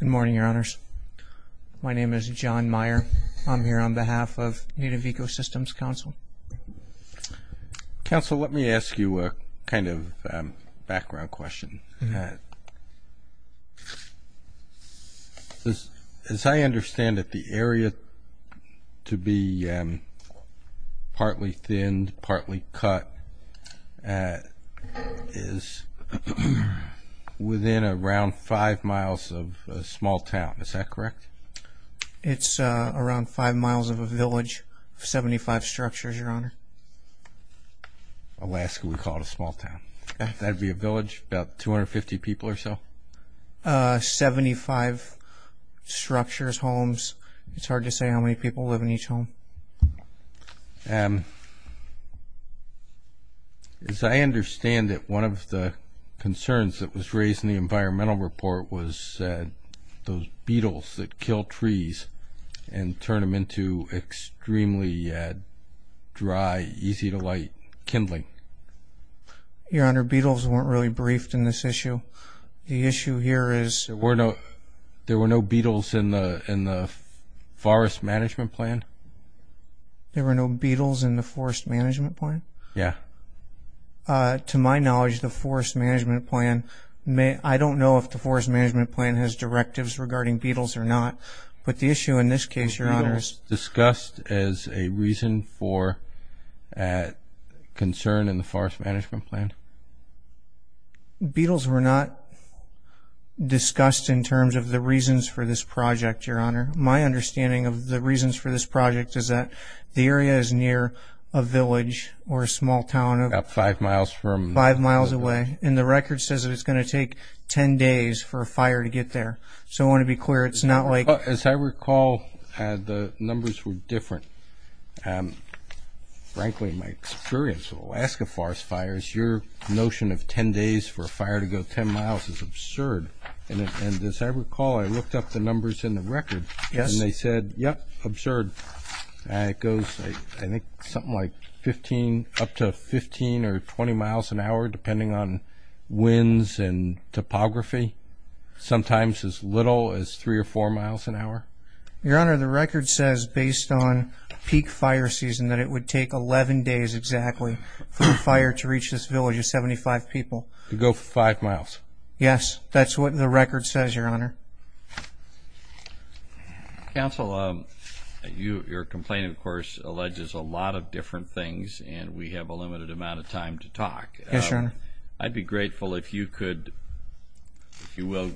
Good morning, Your Honors. My name is John Meyer. I'm here on behalf of Native Ecosystems Council. Council, let me ask you a kind of background question. As I understand it, the area to be partly thinned, partly cut is within around five miles of a small town. Is that correct? It's around five miles of a village of 75 structures, Your Honor. Alaska, we call it a small town. That would be a village, about 250 people or so? Seventy-five structures, homes. It's hard to say how many people live in each home. As I understand it, one of the concerns that was raised in the environmental report was those beetles that kill trees and turn them into extremely dry, easy-to-light kindling. Your Honor, beetles weren't really briefed in this issue. The issue here is... There were no beetles in the forest management plan? There were no beetles in the forest management plan? Yeah. To my knowledge, the forest management plan... I don't know if the forest management plan has directives regarding beetles or not, but the issue in this case, Your Honors... Were beetles discussed as a reason for concern in the forest management plan? Beetles were not discussed in terms of the reasons for this project, Your Honor. My understanding of the reasons for this project is that the area is near a village or a small town... About five miles from... Five miles away. And the record says that it's going to take 10 days for a fire to get there. So I want to be clear, it's not like... Well, as I recall, the numbers were different. Frankly, my experience with Alaska forest fires, your notion of 10 days for a fire to go 10 miles is absurd. And as I recall, I looked up the numbers in the record and they said, yep, absurd. And it goes, I think, something like 15, up to 15 or 20 miles an hour, depending on winds and topography. Sometimes as little as three or four miles an hour. Your Honor, the record says, based on peak fire season, that it would take 11 days exactly for a fire to reach this village of 75 people. To go five miles. Yes, that's what the record says, Your Honor. Counsel, your complaint, of course, alleges a lot of different things and we have a limited amount of time to talk. Yes, Your Honor. I'd be grateful if you could, if you will,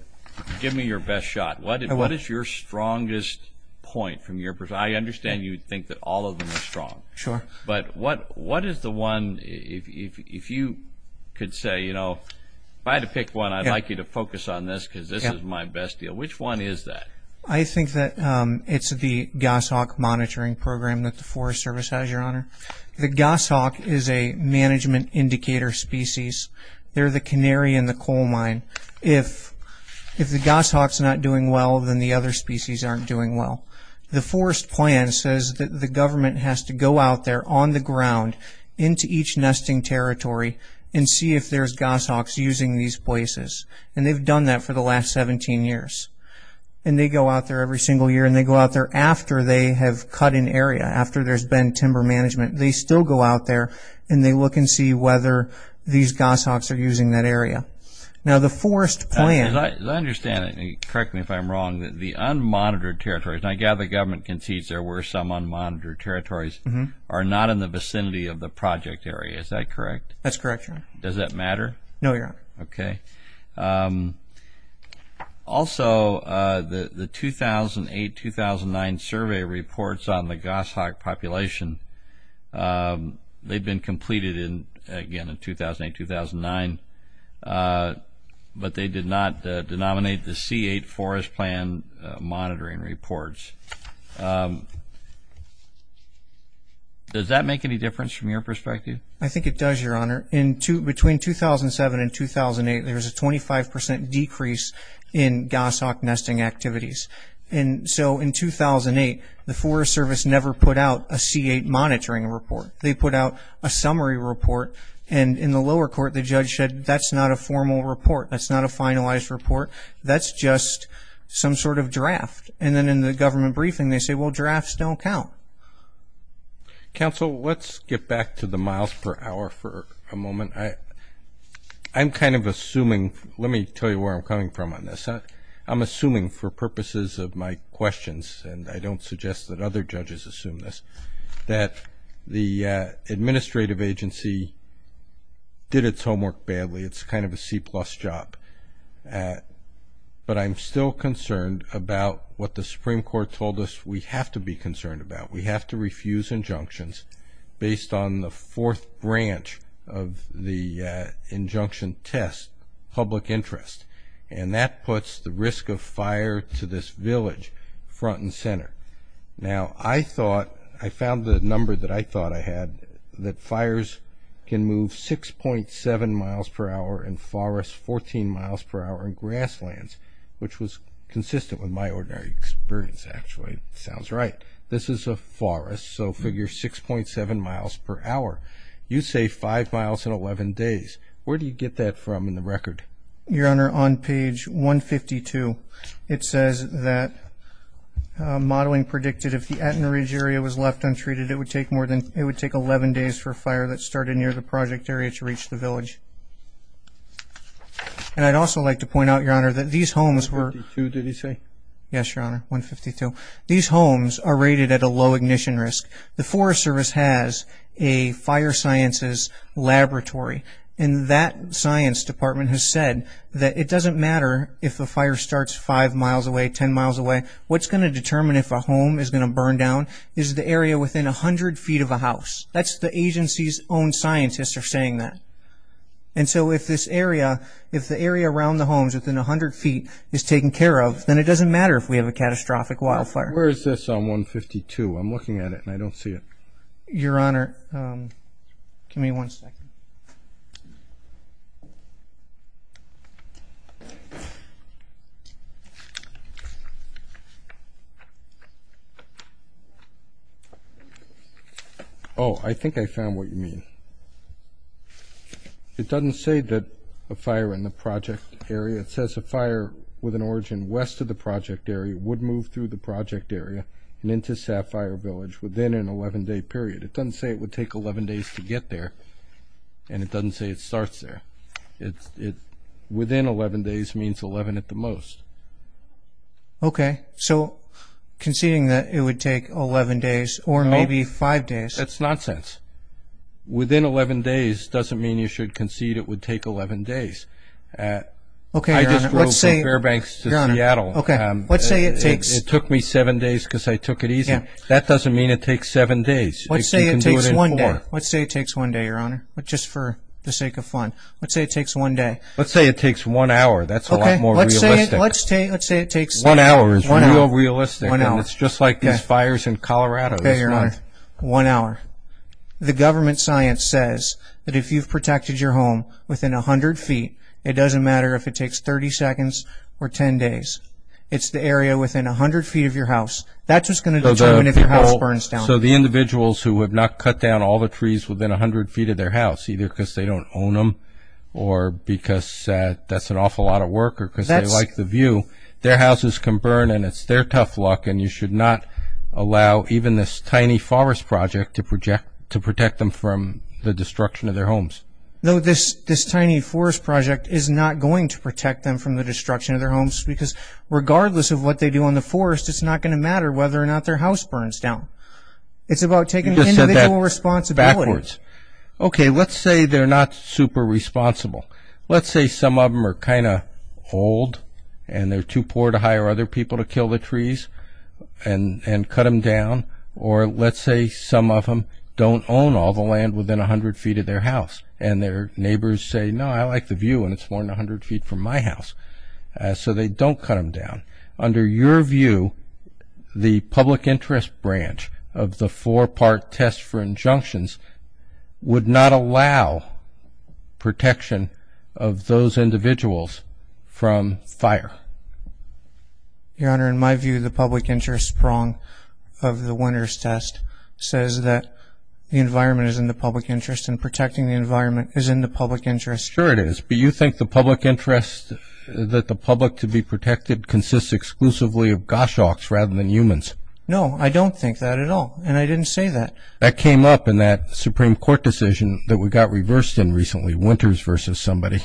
give me your best shot. What is your strongest point from your perspective? I understand you think that all of them are strong. Sure. But what is the one, if you could say, you know, if I had to pick one, I'd like you to focus on this because this is my best deal. Which one is that? I think that it's the goshawk monitoring program that the Forest Service has, Your Honor. The goshawk is a management indicator species. They're the canary in the coal mine. If the goshawk's not doing well, then the other species aren't doing well. The forest plan says that the government has to go out there on the ground into each nesting territory and see if there's goshawks using these places. And they've done that for the last 17 years. And they go out there every single year and they go out there after they have cut an area, after there's been timber management. They still go out there and they look and see whether these goshawks are using that area. As I understand it, and correct me if I'm wrong, the unmonitored territories, and I gather the government concedes there were some unmonitored territories, are not in the vicinity of the project area. Is that correct? That's correct, Your Honor. Does that matter? No, Your Honor. Okay. Also, the 2008-2009 survey reports on the goshawk population, they've been completed again in 2008-2009. But they did not denominate the C8 forest plan monitoring reports. Does that make any difference from your perspective? Your Honor, between 2007 and 2008, there was a 25% decrease in goshawk nesting activities. And so in 2008, the Forest Service never put out a C8 monitoring report. They put out a summary report. And in the lower court, the judge said, that's not a formal report. That's not a finalized report. That's just some sort of draft. And then in the government briefing, they say, well, drafts don't count. Counsel, let's get back to the miles per hour for a moment. I'm kind of assuming, let me tell you where I'm coming from on this. I'm assuming for purposes of my questions, and I don't suggest that other judges assume this, that the administrative agency did its homework badly. It's kind of a C-plus job. But I'm still concerned about what the Supreme Court told us we have to be concerned about. We have to refuse injunctions based on the fourth branch of the injunction test, public interest. And that puts the risk of fire to this village front and center. Now, I thought, I found the number that I thought I had, that fires can move 6.7 miles per hour in forests, 14 miles per hour in grasslands, which was consistent with my ordinary experience, actually. Sounds right. This is a forest, so figure 6.7 miles per hour. You say 5 miles in 11 days. Where do you get that from in the record? Your Honor, on page 152, it says that modeling predicted if the Attenorage area was left untreated, it would take 11 days for a fire that started near the project area to reach the village. And I'd also like to point out, Your Honor, that these homes were- 152, did he say? Yes, Your Honor, 152. These homes are rated at a low ignition risk. The Forest Service has a fire sciences laboratory, and that science department has said that it doesn't matter if the fire starts 5 miles away, 10 miles away. What's going to determine if a home is going to burn down is the area within 100 feet of a house. That's the agency's own scientists are saying that. And so if this area, if the area around the homes within 100 feet is taken care of, then it doesn't matter if we have a catastrophic wildfire. Where is this on 152? I'm looking at it and I don't see it. Your Honor, give me one second. Oh, I think I found what you mean. It doesn't say that a fire in the project area, it says a fire with an origin west of the project area would move through the project area and into Sapphire Village within an 11-day period. It doesn't say it would take 11 days to get there, and it doesn't say it starts there. Within 11 days means 11 at the most. Okay, so conceding that it would take 11 days or maybe 5 days. That's nonsense. Within 11 days doesn't mean you should concede it would take 11 days. I just drove from Fairbanks to Seattle. It took me 7 days because I took it easy. That doesn't mean it takes 7 days. Let's say it takes 1 day, Your Honor, just for the sake of fun. Let's say it takes 1 day. Let's say it takes 1 hour. That's a lot more realistic. Let's say it takes 1 hour. 1 hour is real realistic, and it's just like these fires in Colorado this month. Okay, Your Honor, 1 hour. The government science says that if you've protected your home within 100 feet, it doesn't matter if it takes 30 seconds or 10 days. It's the area within 100 feet of your house. That's what's going to determine if your house burns down. So the individuals who have not cut down all the trees within 100 feet of their house, either because they don't own them or because that's an awful lot of work or because they like the view, their houses can burn, and it's their tough luck, and you should not allow even this tiny forest project to protect them from the destruction of their homes. No, this tiny forest project is not going to protect them from the destruction of their homes because, regardless of what they do in the forest, it's not going to matter whether or not their house burns down. It's about taking individual responsibility. Okay, let's say they're not super responsible. Let's say some of them are kind of old, and they're too poor to hire other people to kill the trees and cut them down. Or let's say some of them don't own all the land within 100 feet of their house, and their neighbors say, no, I like the view, and it's more than 100 feet from my house. So they don't cut them down. Under your view, the public interest branch of the four-part test for injunctions would not allow protection of those individuals from fire? Your Honor, in my view, the public interest prong of the winner's test says that the environment is in the public interest, and protecting the environment is in the public interest. Sure it is. Do you think the public interest, that the public to be protected, consists exclusively of goshawks rather than humans? No, I don't think that at all, and I didn't say that. That came up in that Supreme Court decision that we got reversed in recently, Winters versus somebody.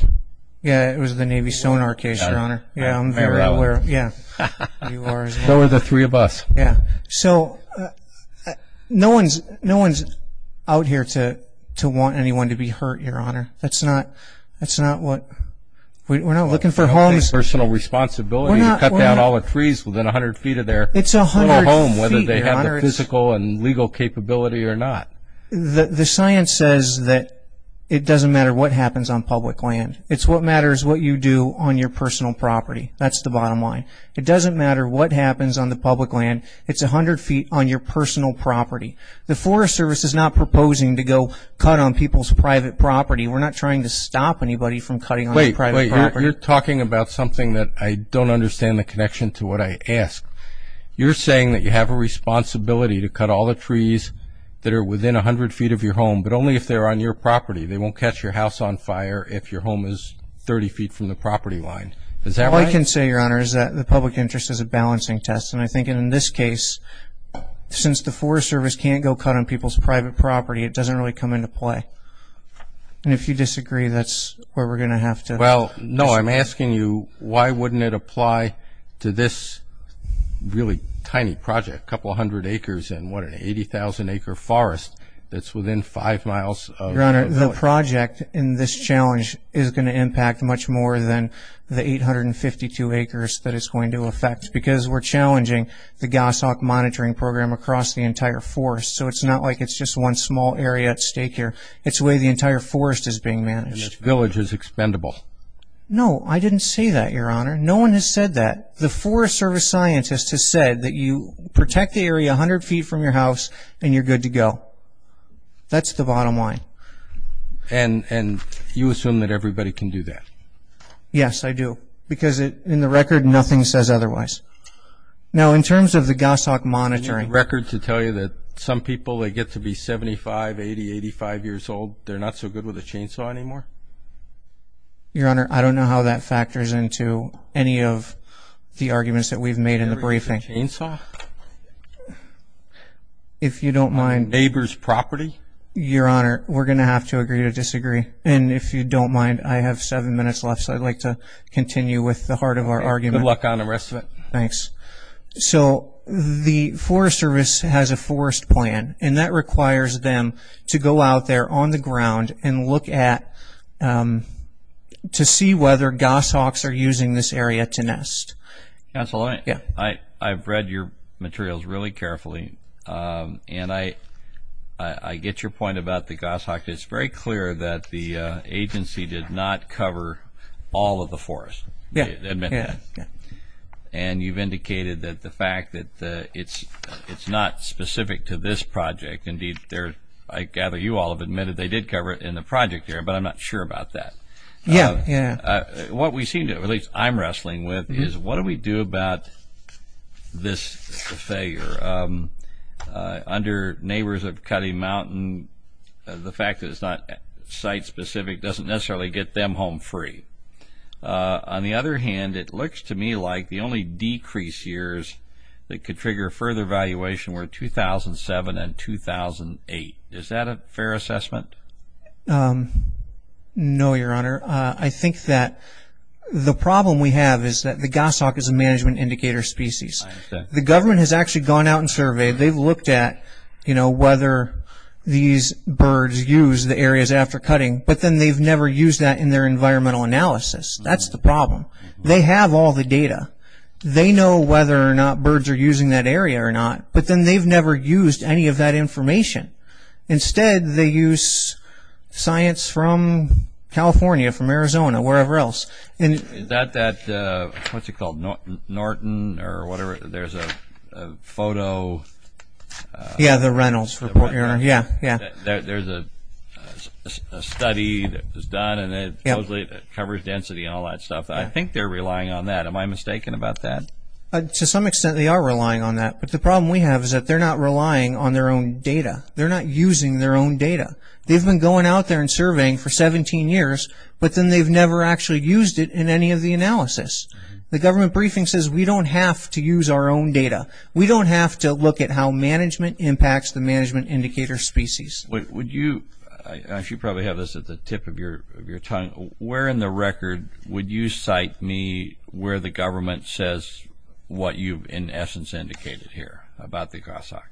Yeah, it was the Navy sonar case, Your Honor. Yeah, I'm very aware. Yeah, you are as well. So are the three of us. Yeah. So no one's out here to want anyone to be hurt, Your Honor. That's not what we're looking for. Personal responsibility to cut down all the trees within 100 feet of their home, whether they have the physical and legal capability or not. The science says that it doesn't matter what happens on public land. It's what matters what you do on your personal property. That's the bottom line. It doesn't matter what happens on the public land. It's 100 feet on your personal property. The Forest Service is not proposing to go cut on people's private property. We're not trying to stop anybody from cutting on their private property. Wait, wait. You're talking about something that I don't understand the connection to what I ask. You're saying that you have a responsibility to cut all the trees that are within 100 feet of your home, but only if they're on your property. They won't catch your house on fire if your home is 30 feet from the property line. Is that right? All I can say, Your Honor, is that the public interest is a balancing test. And I think in this case, since the Forest Service can't go cut on people's private property, it doesn't really come into play. And if you disagree, that's where we're going to have to. Well, no, I'm asking you, why wouldn't it apply to this really tiny project, a couple hundred acres in what, an 80,000-acre forest that's within five miles of the village? Your Honor, the project in this challenge is going to impact much more than the 852 acres that it's going to affect because we're challenging the Gassauk monitoring program across the entire forest. So it's not like it's just one small area at stake here. It's the way the entire forest is being managed. And this village is expendable. No, I didn't say that, Your Honor. No one has said that. The Forest Service scientist has said that you protect the area 100 feet from your house and you're good to go. That's the bottom line. And you assume that everybody can do that? Yes, I do, because in the record, nothing says otherwise. Now, in terms of the Gassauk monitoring. Is there a record to tell you that some people that get to be 75, 80, 85 years old, they're not so good with a chainsaw anymore? Your Honor, I don't know how that factors into any of the arguments that we've made in the briefing. Anybody with a chainsaw? If you don't mind. On a neighbor's property? Your Honor, we're going to have to agree to disagree. And if you don't mind, I have seven minutes left, so I'd like to continue with the heart of our argument. Good luck on the rest of it. Thanks. So the Forest Service has a forest plan, and that requires them to go out there on the ground and look at to see whether Gassauks are using this area to nest. Counsel, I've read your materials really carefully, and I get your point about the Gassauk. It's very clear that the agency did not cover all of the forest. Yeah. And you've indicated that the fact that it's not specific to this project. Indeed, I gather you all have admitted they did cover it in the project area, but I'm not sure about that. Yeah. What we seem to, or at least I'm wrestling with, is what do we do about this failure? Under neighbors of Cutty Mountain, the fact that it's not site-specific doesn't necessarily get them home free. On the other hand, it looks to me like the only decrease years that could trigger further valuation were 2007 and 2008. Is that a fair assessment? No, Your Honor. I think that the problem we have is that the Gassauk is a management indicator species. I understand. The government has actually gone out and surveyed. They've looked at whether these birds use the areas after cutting, but then they've never used that in their environmental analysis. That's the problem. They have all the data. They know whether or not birds are using that area or not, but then they've never used any of that information. Instead, they use science from California, from Arizona, wherever else. Is that, what's it called, Norton or whatever? There's a photo. Yeah, the Reynolds report. Yeah. There's a study that was done, and it covers density and all that stuff. I think they're relying on that. Am I mistaken about that? To some extent, they are relying on that, but the problem we have is that they're not relying on their own data. They're not using their own data. They've been going out there and surveying for 17 years, but then they've never actually used it in any of the analysis. The government briefing says we don't have to use our own data. We don't have to look at how management impacts the management indicator species. I should probably have this at the tip of your tongue. Where in the record would you cite me where the government says what you've in essence indicated here about the Gossack?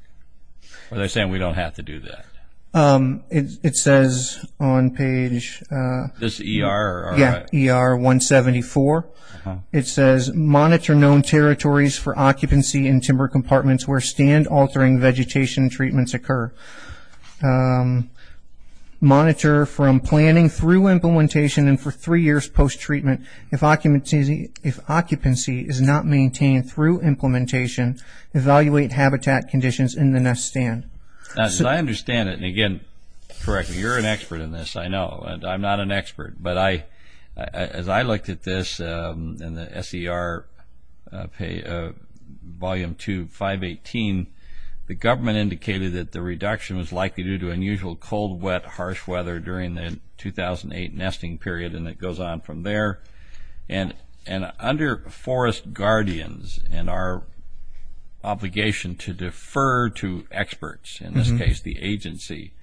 Are they saying we don't have to do that? It says on page… This ER? Yeah, ER 174. It says monitor known territories for occupancy in timber compartments where stand-altering vegetation treatments occur. Monitor from planning through implementation and for three years post-treatment. If occupancy is not maintained through implementation, evaluate habitat conditions in the next stand. I understand it, and again, correct me. You're an expert in this, I know, and I'm not an expert, but as I looked at this in the SER Volume 2, 518, the government indicated that the reduction was likely due to unusual cold, wet, harsh weather during the 2008 nesting period, and it goes on from there. And under forest guardians and our obligation to defer to experts, in this case the agency,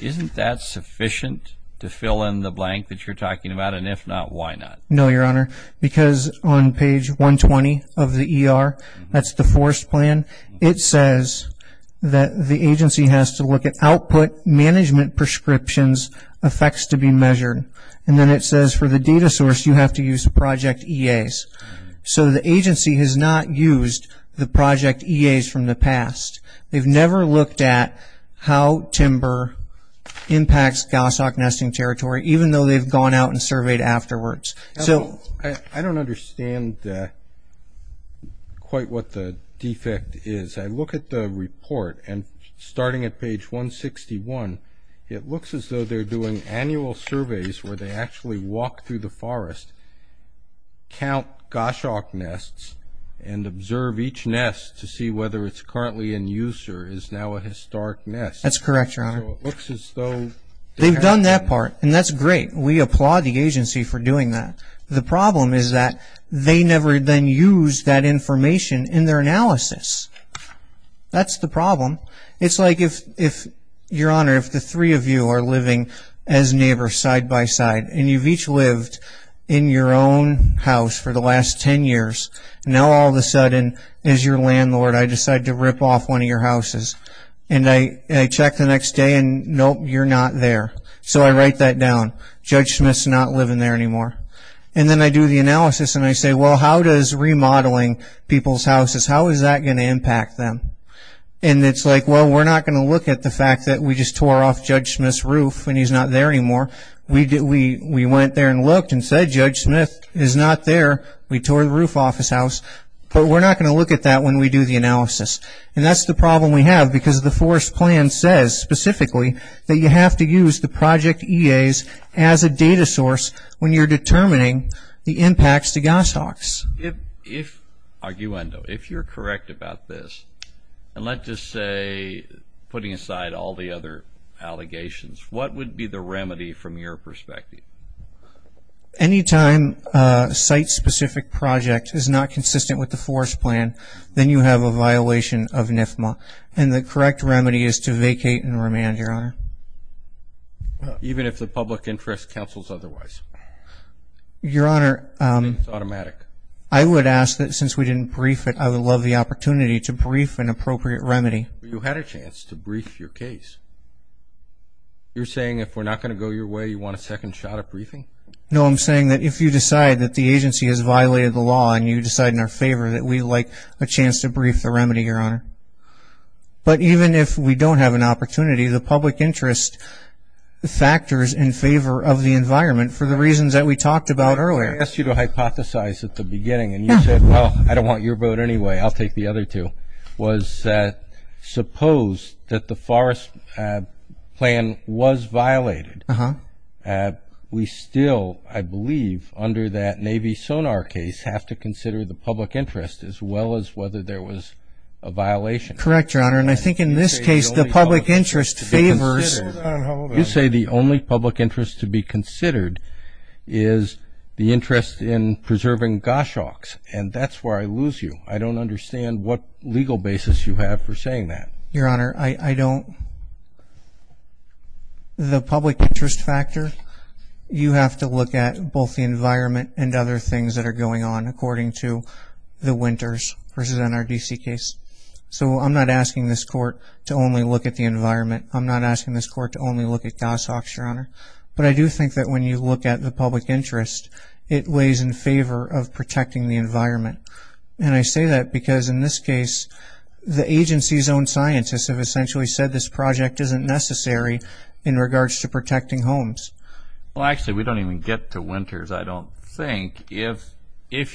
isn't that sufficient to fill in the blank that you're talking about? And if not, why not? No, Your Honor, because on page 120 of the ER, that's the forest plan, it says that the agency has to look at output management prescriptions, effects to be measured. And then it says for the data source, you have to use project EAs. So the agency has not used the project EAs from the past. They've never looked at how timber impacts goshawk nesting territory, even though they've gone out and surveyed afterwards. I don't understand quite what the defect is. I look at the report, and starting at page 161, it looks as though they're doing annual surveys where they actually walk through the forest, count goshawk nests, and observe each nest to see whether it's currently in use or is now a historic nest. That's correct, Your Honor. So it looks as though they have done that. They've done that part, and that's great. We applaud the agency for doing that. The problem is that they never then used that information in their analysis. That's the problem. It's like if, Your Honor, if the three of you are living as neighbors side by side, and you've each lived in your own house for the last ten years, and now all of a sudden, as your landlord, I decide to rip off one of your houses. And I check the next day, and nope, you're not there. So I write that down. Judge Smith's not living there anymore. And then I do the analysis, and I say, well, how does remodeling people's houses, how is that going to impact them? And it's like, well, we're not going to look at the fact that we just tore off Judge Smith's roof and he's not there anymore. We went there and looked and said, Judge Smith is not there. We tore the roof off his house. But we're not going to look at that when we do the analysis. And that's the problem we have because the forest plan says specifically that you have to use the project EAs as a data source when you're determining the impacts to goshawks. If, arguendo, if you're correct about this, and let's just say putting aside all the other allegations, what would be the remedy from your perspective? Any time a site-specific project is not consistent with the forest plan, then you have a violation of NFMA. And the correct remedy is to vacate and remand, Your Honor. Even if the public interest counsels otherwise? Your Honor, I would ask that since we didn't brief it, I would love the opportunity to brief an appropriate remedy. You had a chance to brief your case. You're saying if we're not going to go your way, you want a second shot at briefing? No, I'm saying that if you decide that the agency has violated the law and you decide in our favor that we'd like a chance to brief the remedy, Your Honor. But even if we don't have an opportunity, the public interest factors in favor of the environment for the reasons that we talked about earlier. I asked you to hypothesize at the beginning, and you said, well, I don't want your vote anyway. I'll take the other two. What you said was that suppose that the forest plan was violated, we still, I believe, under that Navy sonar case, have to consider the public interest as well as whether there was a violation. Correct, Your Honor, and I think in this case the public interest favors. You say the only public interest to be considered is the interest in preserving goshawks, and that's where I lose you. I don't understand what legal basis you have for saying that. Your Honor, I don't. The public interest factor, you have to look at both the environment and other things that are going on according to the winters versus NRDC case. So I'm not asking this Court to only look at the environment. I'm not asking this Court to only look at goshawks, Your Honor. But I do think that when you look at the public interest, it lays in favor of protecting the environment. And I say that because, in this case, the agency's own scientists have essentially said this project isn't necessary in regards to protecting homes. Well, actually, we don't even get to winters, I don't think, if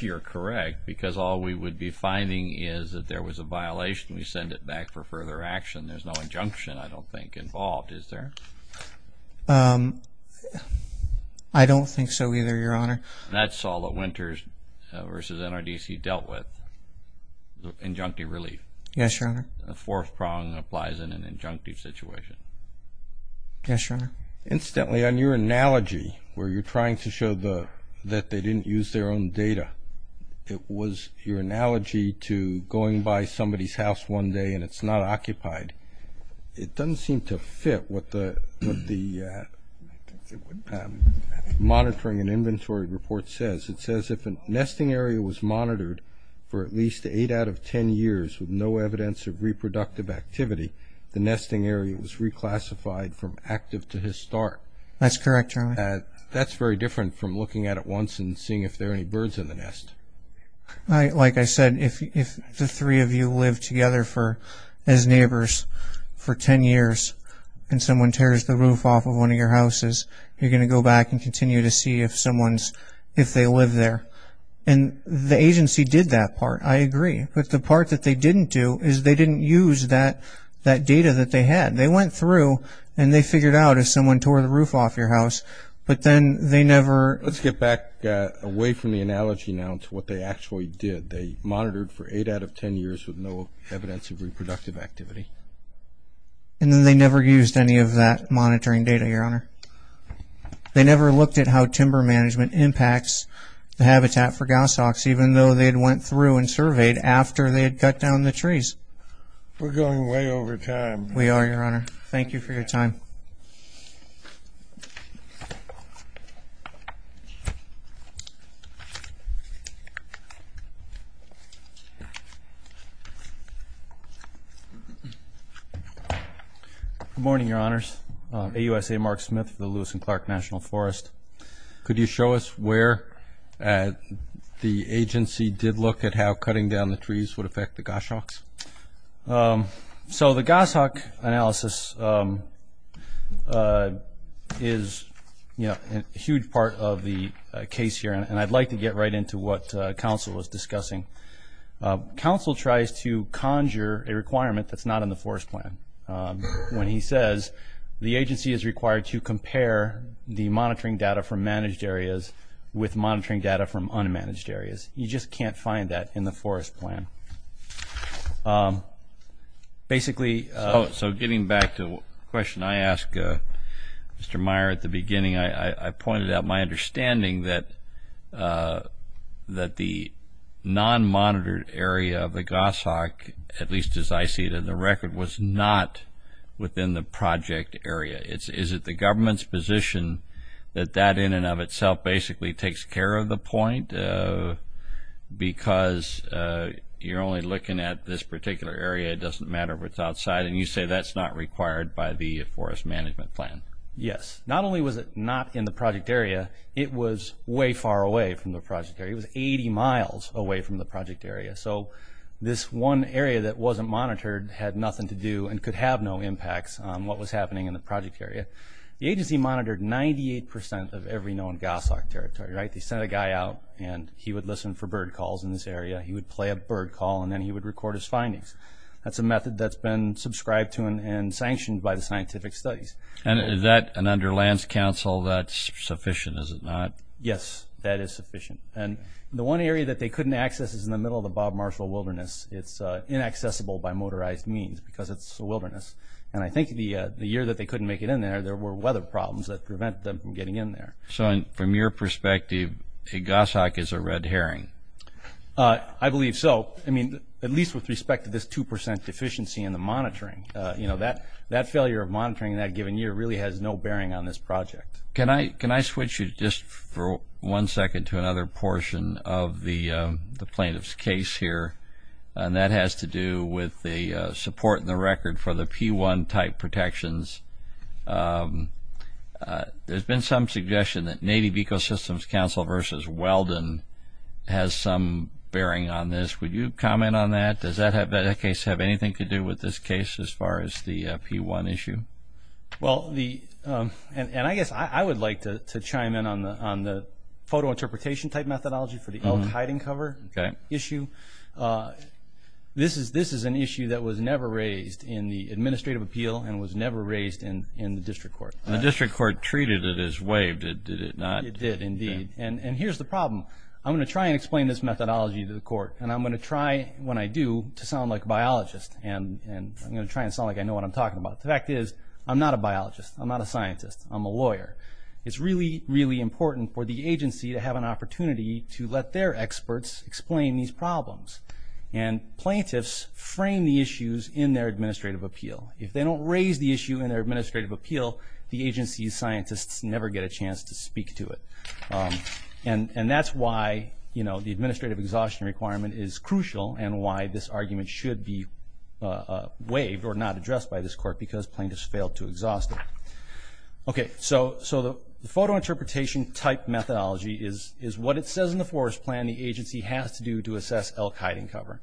you're correct, because all we would be finding is that there was a violation and we send it back for further action. There's no injunction, I don't think, involved, is there? I don't think so either, Your Honor. That's all the winters versus NRDC dealt with, injunctive relief. Yes, Your Honor. A fourth prong applies in an injunctive situation. Yes, Your Honor. Incidentally, on your analogy where you're trying to show that they didn't use their own data, it was your analogy to going by somebody's house one day and it's not occupied. It doesn't seem to fit what the monitoring and inventory report says. It says if a nesting area was monitored for at least eight out of ten years with no evidence of reproductive activity, the nesting area was reclassified from active to historic. That's correct, Your Honor. That's very different from looking at it once and seeing if there are any birds in the nest. Like I said, if the three of you live together as neighbors for ten years and someone tears the roof off of one of your houses, you're going to go back and continue to see if they live there. And the agency did that part. I agree. But the part that they didn't do is they didn't use that data that they had. They went through and they figured out if someone tore the roof off your house, but then they never – Let's get back away from the analogy now to what they actually did. They monitored for eight out of ten years with no evidence of reproductive activity. And then they never used any of that monitoring data, Your Honor. They never looked at how timber management impacts the habitat for gouse hawks, even though they had went through and surveyed after they had cut down the trees. We're going way over time. We are, Your Honor. Thank you for your time. Thank you. Good morning, Your Honors. I'm AUSA Mark Smith for the Lewis and Clark National Forest. Could you show us where the agency did look at how cutting down the trees would affect the gouse hawks? So the gouse hawk analysis is a huge part of the case here, and I'd like to get right into what counsel was discussing. Counsel tries to conjure a requirement that's not in the forest plan when he says the agency is required to compare the monitoring data from managed areas with monitoring data from unmanaged areas. You just can't find that in the forest plan. So getting back to the question I asked Mr. Meyer at the beginning, I pointed out my understanding that the non-monitored area of the gouse hawk, at least as I see it in the record, was not within the project area. Is it the government's position that that in and of itself basically takes care of the point? Because you're only looking at this particular area, it doesn't matter if it's outside, and you say that's not required by the forest management plan. Yes. Not only was it not in the project area, it was way far away from the project area. It was 80 miles away from the project area. So this one area that wasn't monitored had nothing to do and could have no impacts on what was happening in the project area. The agency monitored 98% of every known gouse hawk territory. They sent a guy out, and he would listen for bird calls in this area. He would play a bird call, and then he would record his findings. That's a method that's been subscribed to and sanctioned by the scientific studies. And is that an under lands council? That's sufficient, is it not? Yes, that is sufficient. And the one area that they couldn't access is in the middle of the Bob Marshall Wilderness. It's inaccessible by motorized means because it's a wilderness. And I think the year that they couldn't make it in there, there were weather problems that prevented them from getting in there. So from your perspective, a gouse hawk is a red herring? I believe so, at least with respect to this 2% deficiency in the monitoring. That failure of monitoring in that given year really has no bearing on this project. Can I switch you just for one second to another portion of the plaintiff's case here? And that has to do with the support in the record for the P-1 type protections. There's been some suggestion that Native Ecosystems Council versus Weldon has some bearing on this. Would you comment on that? Does that case have anything to do with this case as far as the P-1 issue? Well, and I guess I would like to chime in on the photo interpretation type methodology for the elk hiding cover issue. This is an issue that was never raised in the administrative appeal and was never raised in the district court. The district court treated it as waived. Did it not? It did, indeed. And here's the problem. I'm going to try and explain this methodology to the court, and I'm going to try when I do to sound like a biologist. And I'm going to try and sound like I know what I'm talking about. The fact is I'm not a biologist. I'm not a scientist. I'm a lawyer. It's really, really important for the agency to have an opportunity to let their experts explain these problems. And plaintiffs frame the issues in their administrative appeal. If they don't raise the issue in their administrative appeal, the agency's scientists never get a chance to speak to it. And that's why the administrative exhaustion requirement is crucial and why this argument should be waived or not addressed by this court because plaintiffs failed to exhaust it. Okay, so the photo interpretation type methodology is what it says in the forest plan the agency has to do to assess elk hiding cover.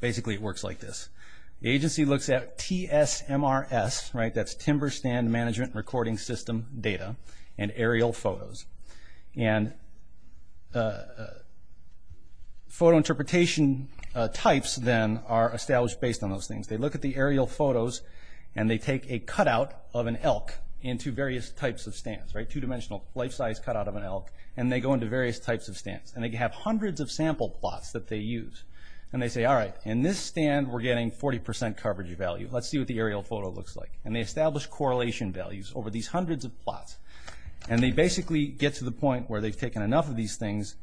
Basically it works like this. The agency looks at TSMRS, right, that's timber stand management recording system data, and aerial photos. And photo interpretation types, then, are established based on those things. They look at the aerial photos and they take a cutout of an elk into various types of stands, right, two-dimensional life-size cutout of an elk, and they go into various types of stands. And they have hundreds of sample plots that they use. And they say, all right, in this stand we're getting 40% coverage value. Let's see what the aerial photo looks like. And they establish correlation values over these hundreds of plots. And they basically get to the point where they've taken enough of these things,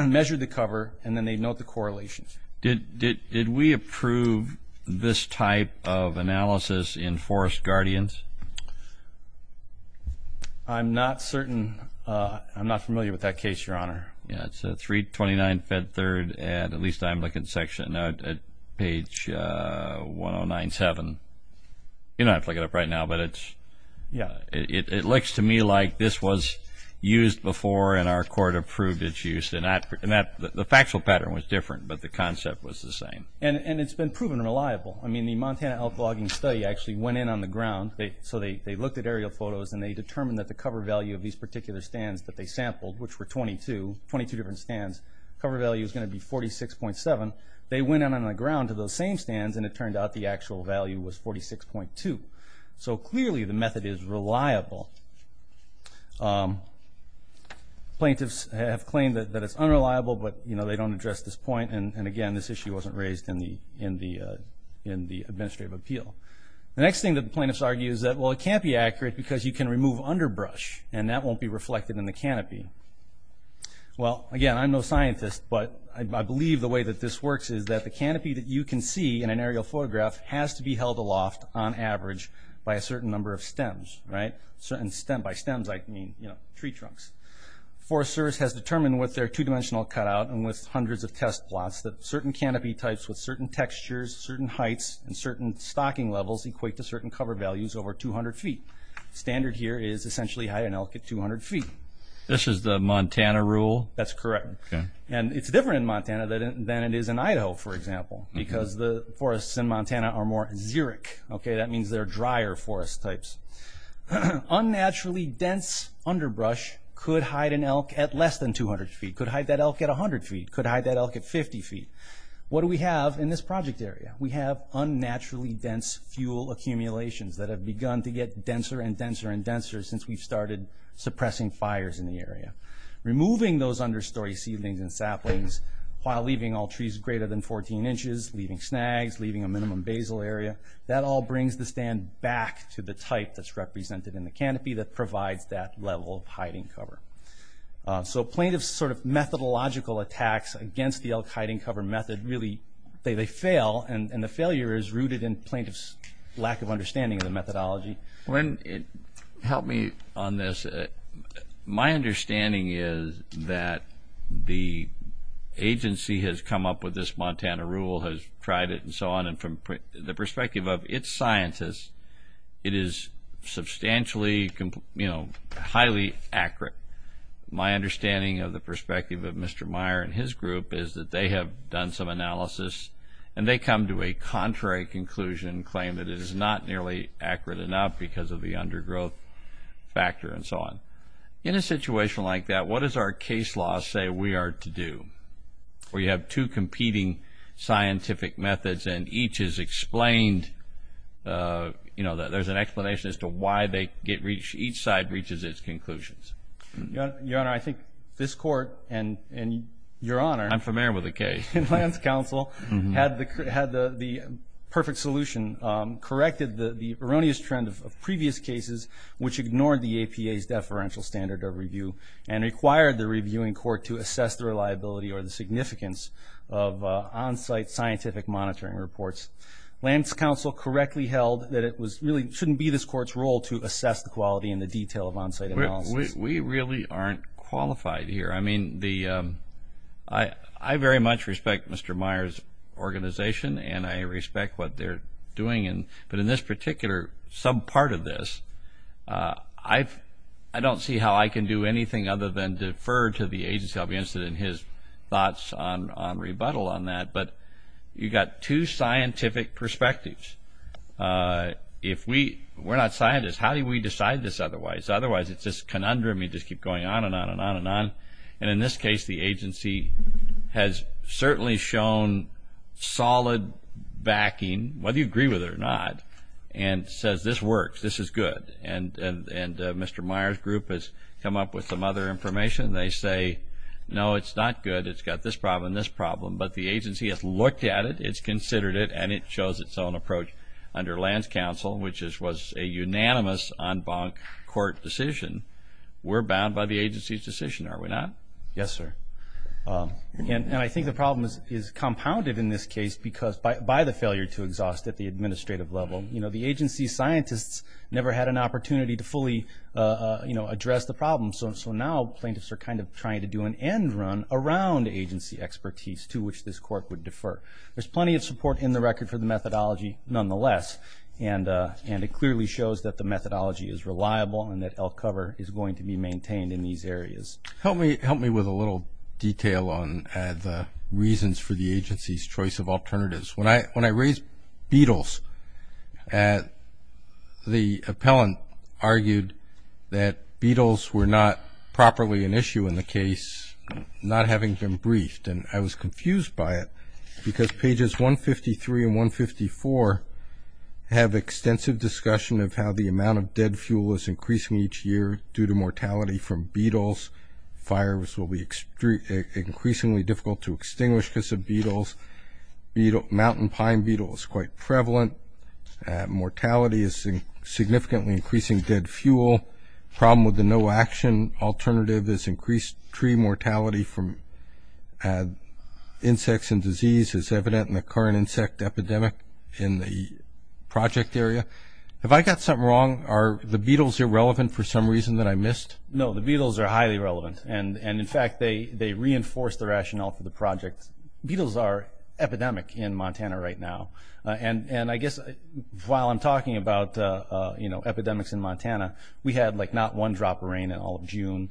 measured the cover, and then they note the correlations. Did we approve this type of analysis in Forest Guardians? I'm not certain. I'm not familiar with that case, Your Honor. Yeah, it's 329 Fed Third, at least I'm looking at page 1097. You don't have to look it up right now, but it's – It looked to me like this was used before and our court approved its use. And the factual pattern was different, but the concept was the same. And it's been proven reliable. I mean, the Montana elk logging study actually went in on the ground. So they looked at aerial photos and they determined that the cover value of these particular stands that they sampled, which were 22, 22 different stands, cover value is going to be 46.7. They went in on the ground to those same stands, and it turned out the actual value was 46.2. So clearly the method is reliable. Plaintiffs have claimed that it's unreliable, but, you know, they don't address this point. And, again, this issue wasn't raised in the administrative appeal. The next thing that the plaintiffs argue is that, well, it can't be accurate because you can remove underbrush, and that won't be reflected in the canopy. Well, again, I'm no scientist, but I believe the way that this works is that the canopy that you can see in an average by a certain number of stems, right? By stems I mean, you know, tree trunks. Forest Service has determined with their two-dimensional cutout and with hundreds of test plots that certain canopy types with certain textures, certain heights, and certain stocking levels equate to certain cover values over 200 feet. Standard here is essentially high in elk at 200 feet. This is the Montana rule? That's correct. And it's different in Montana than it is in Idaho, for example, because the forests in Montana are more xeric. Okay, that means they're drier forest types. Unnaturally dense underbrush could hide an elk at less than 200 feet, could hide that elk at 100 feet, could hide that elk at 50 feet. What do we have in this project area? We have unnaturally dense fuel accumulations that have begun to get denser and denser and denser since we've started suppressing fires in the area. Removing those understory seedlings and saplings while leaving all trees greater than 14 inches, leaving snags, leaving a minimum basal area, that all brings the stand back to the type that's represented in the canopy that provides that level of hiding cover. So plaintiffs' sort of methodological attacks against the elk hiding cover method, they fail, and the failure is rooted in plaintiffs' lack of understanding of the methodology. Help me on this. My understanding is that the agency has come up with this Montana rule, has tried it and so on, and from the perspective of its scientists, it is substantially, you know, highly accurate. My understanding of the perspective of Mr. Meyer and his group is that they have done some analysis and they come to a contrary conclusion, claim that it is not nearly accurate enough because of the undergrowth factor and so on. In a situation like that, what does our case law say we are to do? We have two competing scientific methods and each is explained, you know, there's an explanation as to why each side reaches its conclusions. Your Honor, I think this Court and your Honor. I'm familiar with the case. And land's counsel had the perfect solution, corrected the erroneous trend of previous cases, which ignored the APA's deferential standard of review and required the reviewing court to assess the reliability or the significance of on-site scientific monitoring reports. Land's counsel correctly held that it really shouldn't be this court's role to assess the quality and the detail of on-site analysis. We really aren't qualified here. I mean, I very much respect Mr. Meyer's organization and I respect what they're doing. But in this particular, some part of this, I don't see how I can do anything other than defer to the agency. I'll be interested in his thoughts on rebuttal on that. But you've got two scientific perspectives. If we're not scientists, how do we decide this otherwise? Otherwise, it's just conundrum. You just keep going on and on and on and on. And in this case, the agency has certainly shown solid backing, whether you agree with it or not, and says this works, this is good. And Mr. Meyer's group has come up with some other information. They say, no, it's not good. It's got this problem and this problem. But the agency has looked at it, it's considered it, and it shows its own approach under Land's counsel, which was a unanimous en banc court decision. We're bound by the agency's decision, are we not? Yes, sir. And I think the problem is compounded in this case by the failure to exhaust at the administrative level. The agency scientists never had an opportunity to fully address the problem, so now plaintiffs are kind of trying to do an end run around agency expertise to which this court would defer. There's plenty of support in the record for the methodology, nonetheless, and it clearly shows that the methodology is reliable and that LCOVR is going to be maintained in these areas. Help me with a little detail on the reasons for the agency's choice of alternatives. When I raised Beatles, the appellant argued that Beatles were not properly an issue in the case, not having been briefed. And I was confused by it because pages 153 and 154 have extensive discussion of how the amount of dead fuel is increasing each year due to mortality from Beatles. Fires will be increasingly difficult to extinguish because of Beatles. Mountain pine beetle is quite prevalent. Mortality is significantly increasing dead fuel. Problem with the no action alternative is increased tree mortality from insects and disease is evident in the current insect epidemic in the project area. Have I got something wrong? Are the Beatles irrelevant for some reason that I missed? No, the Beatles are highly relevant, and in fact they reinforce the rationale for the project. Beatles are epidemic in Montana right now, and I guess while I'm talking about epidemics in Montana, we had like not one drop of rain in all of June.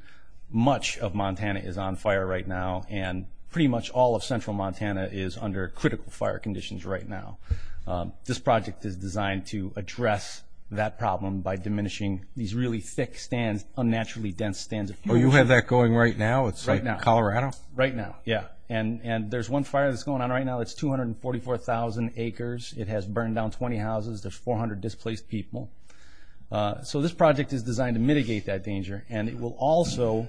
Much of Montana is on fire right now, and pretty much all of central Montana is under critical fire conditions right now. This project is designed to address that problem by diminishing these really thick stands, unnaturally dense stands of fuel. Oh, you have that going right now? Right now. It's like in Colorado? Right now, yeah. And there's one fire that's going on right now that's 244,000 acres. It has burned down 20 houses. There's 400 displaced people. So this project is designed to mitigate that danger, and it will also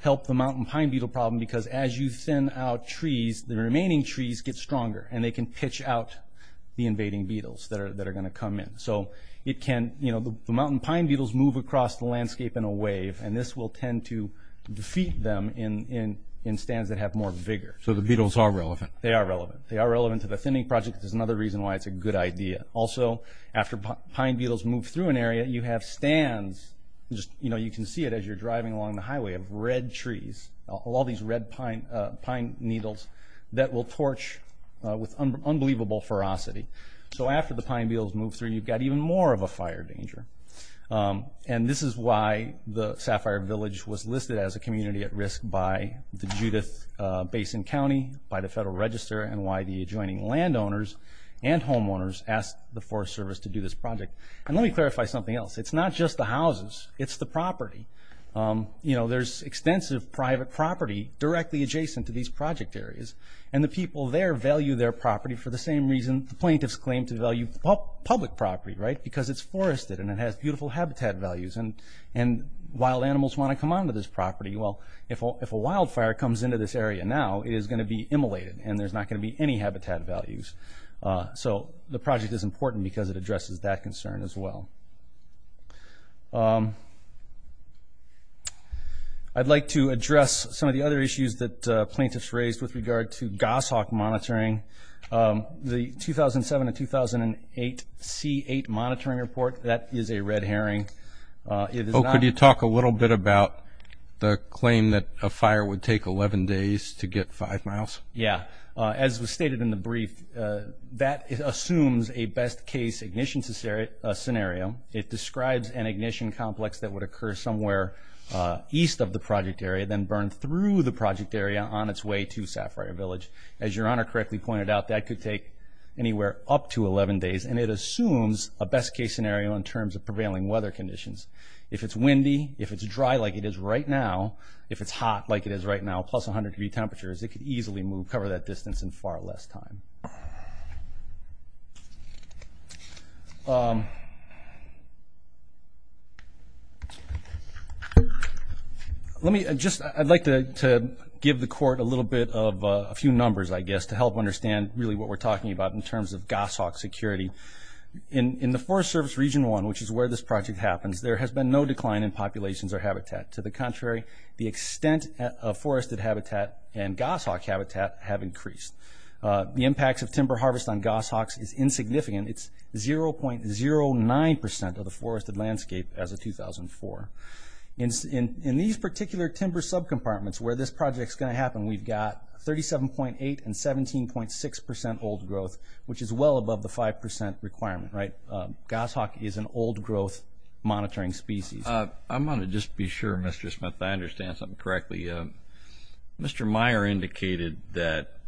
help the mountain pine beetle problem because as you thin out trees, the remaining trees get stronger, and they can pitch out the invading beetles that are going to come in. So the mountain pine beetles move across the landscape in a wave, and this will tend to defeat them in stands that have more vigor. So the beetles are relevant? They are relevant. They are relevant to the thinning project. That's another reason why it's a good idea. Also, after pine beetles move through an area, you have stands. You can see it as you're driving along the highway of red trees, all these red pine needles that will torch with unbelievable ferocity. So after the pine beetles move through, you've got even more of a fire danger. And this is why the Sapphire Village was listed as a community at risk by the Judith Basin County, by the Federal Register, and why the adjoining landowners and homeowners asked the Forest Service to do this project. And let me clarify something else. It's not just the houses. It's the property. There's extensive private property directly adjacent to these project areas, and the people there value their property for the same reason the plaintiffs claim to value public property, because it's forested and it has beautiful habitat values, and wild animals want to come onto this property. Well, if a wildfire comes into this area now, it is going to be immolated, and there's not going to be any habitat values. So the project is important because it addresses that concern as well. I'd like to address some of the other issues that plaintiffs raised with regard to goshawk monitoring. The 2007 and 2008 C8 monitoring report, that is a red herring. Could you talk a little bit about the claim that a fire would take 11 days to get five miles? Yeah. As was stated in the brief, that assumes a best-case ignition scenario. It describes an ignition complex that would occur somewhere east of the project area, then burn through the project area on its way to Sapphire Village. As Your Honor correctly pointed out, that could take anywhere up to 11 days, and it assumes a best-case scenario in terms of prevailing weather conditions. If it's windy, if it's dry like it is right now, if it's hot like it is right now, plus 100-degree temperatures, it could easily move, cover that distance in far less time. I'd like to give the Court a little bit of a few numbers, I guess, to help understand really what we're talking about in terms of goshawk security. In the Forest Service Region 1, which is where this project happens, there has been no decline in populations or habitat. To the contrary, the extent of forested habitat and goshawk habitat have increased. The impacts of timber harvest on goshawks is insignificant. It's 0.09% of the forested landscape as of 2004. In these particular timber subcompartments where this project is going to happen, we've got 37.8% and 17.6% old growth, which is well above the 5% requirement, right? Goshawk is an old-growth monitoring species. I'm going to just be sure, Mr. Smith, I understand something correctly. Mr. Meyer indicated that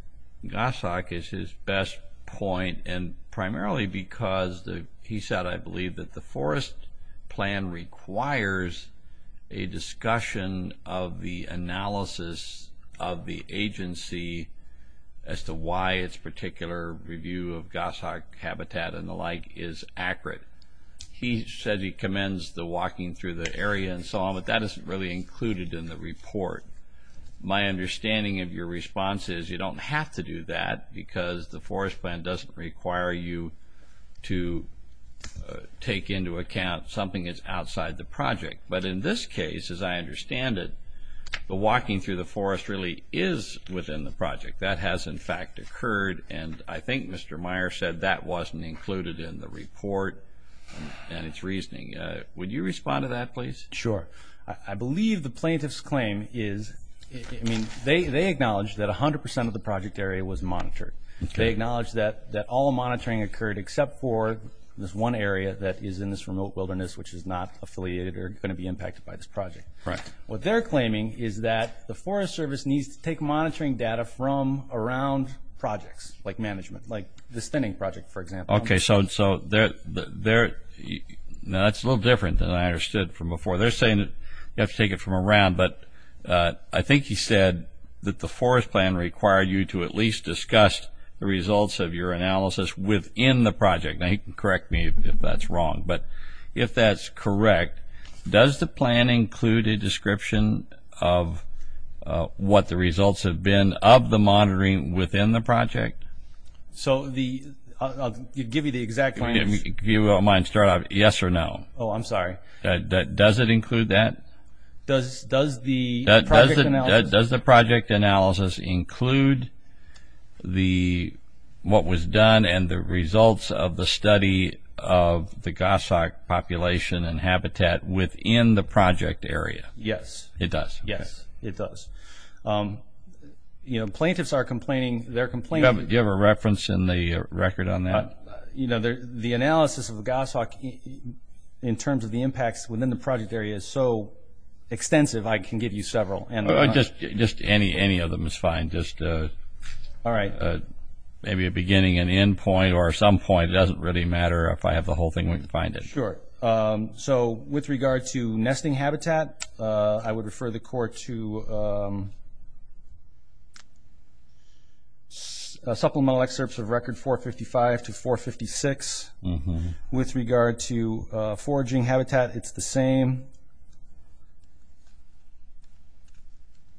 goshawk is his best point, and primarily because he said, I believe, that the forest plan requires a discussion of the analysis of the agency as to why its particular review of goshawk habitat and the like is accurate. He said he commends the walking through the area and so on, but that isn't really included in the report. My understanding of your response is you don't have to do that because the forest plan doesn't require you to take into account something that's outside the project. But in this case, as I understand it, the walking through the forest really is within the project. That has, in fact, occurred, and I think Mr. Meyer said that wasn't included in the report and its reasoning. Would you respond to that, please? Sure. I believe the plaintiff's claim is they acknowledge that 100% of the project area was monitored. They acknowledge that all monitoring occurred except for this one area that is in this remote wilderness, which is not affiliated or going to be impacted by this project. What they're claiming is that the Forest Service needs to take monitoring data from around projects, like management, like the stinning project, for example. Okay, so that's a little different than I understood from before. They're saying you have to take it from around, but I think he said that the forest plan required you to at least discuss the results of your analysis within the project. Now, he can correct me if that's wrong, but if that's correct, does the plan include a description of what the results have been of the monitoring within the project? I'll give you the exact answer. If you don't mind starting off, yes or no? Oh, I'm sorry. Does it include that? Does the project analysis include what was done and the results of the study of the goshawk population and habitat within the project area? Yes. It does? Yes, it does. Plaintiffs are complaining. Do you have a reference in the record on that? The analysis of the goshawk in terms of the impacts within the project area is so extensive, I can give you several. Just any of them is fine, just maybe a beginning and end point, or at some point it doesn't really matter if I have the whole thing when you find it. Sure. With regard to nesting habitat, I would refer the court to supplemental excerpts of record 455 to 456. With regard to foraging habitat, it's the same.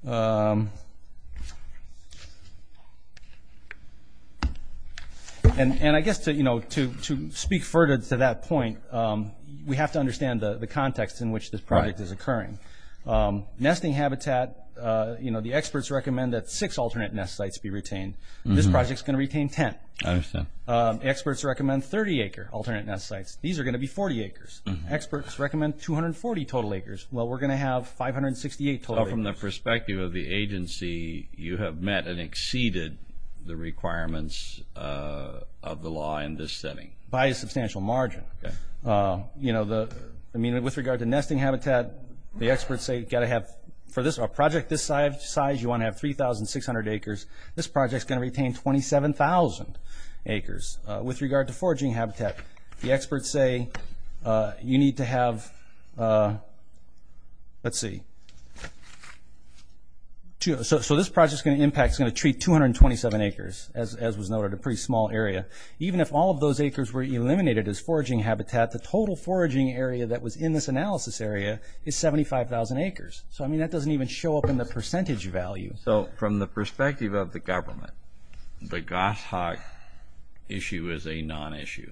And I guess to speak further to that point, we have to understand the context in which this project is occurring. Nesting habitat, the experts recommend that six alternate nest sites be retained. This project is going to retain 10. I understand. Experts recommend 30-acre alternate nest sites. These are going to be 40 acres. Experts recommend 240 total acres. Well, we're going to have 568 total acres. So from the perspective of the agency, you have met and exceeded the requirements of the law in this setting? By a substantial margin. Okay. With regard to nesting habitat, the experts say you've got to have, for a project this size, you want to have 3,600 acres. This project is going to retain 27,000 acres. With regard to foraging habitat, the experts say you need to have, let's see. So this project's going to impact, it's going to treat 227 acres, as was noted, a pretty small area. Even if all of those acres were eliminated as foraging habitat, the total foraging area that was in this analysis area is 75,000 acres. So, I mean, that doesn't even show up in the percentage value. So from the perspective of the government, the goshawk issue is a non-issue?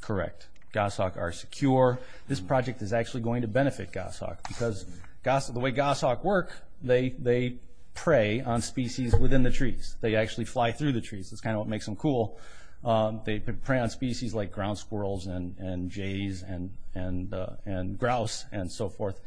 Correct. Goshawk are secure. This project is actually going to benefit goshawk because the way goshawk work, they prey on species within the trees. They actually fly through the trees. That's kind of what makes them cool. They prey on species like ground squirrels and jays and grouse and so forth.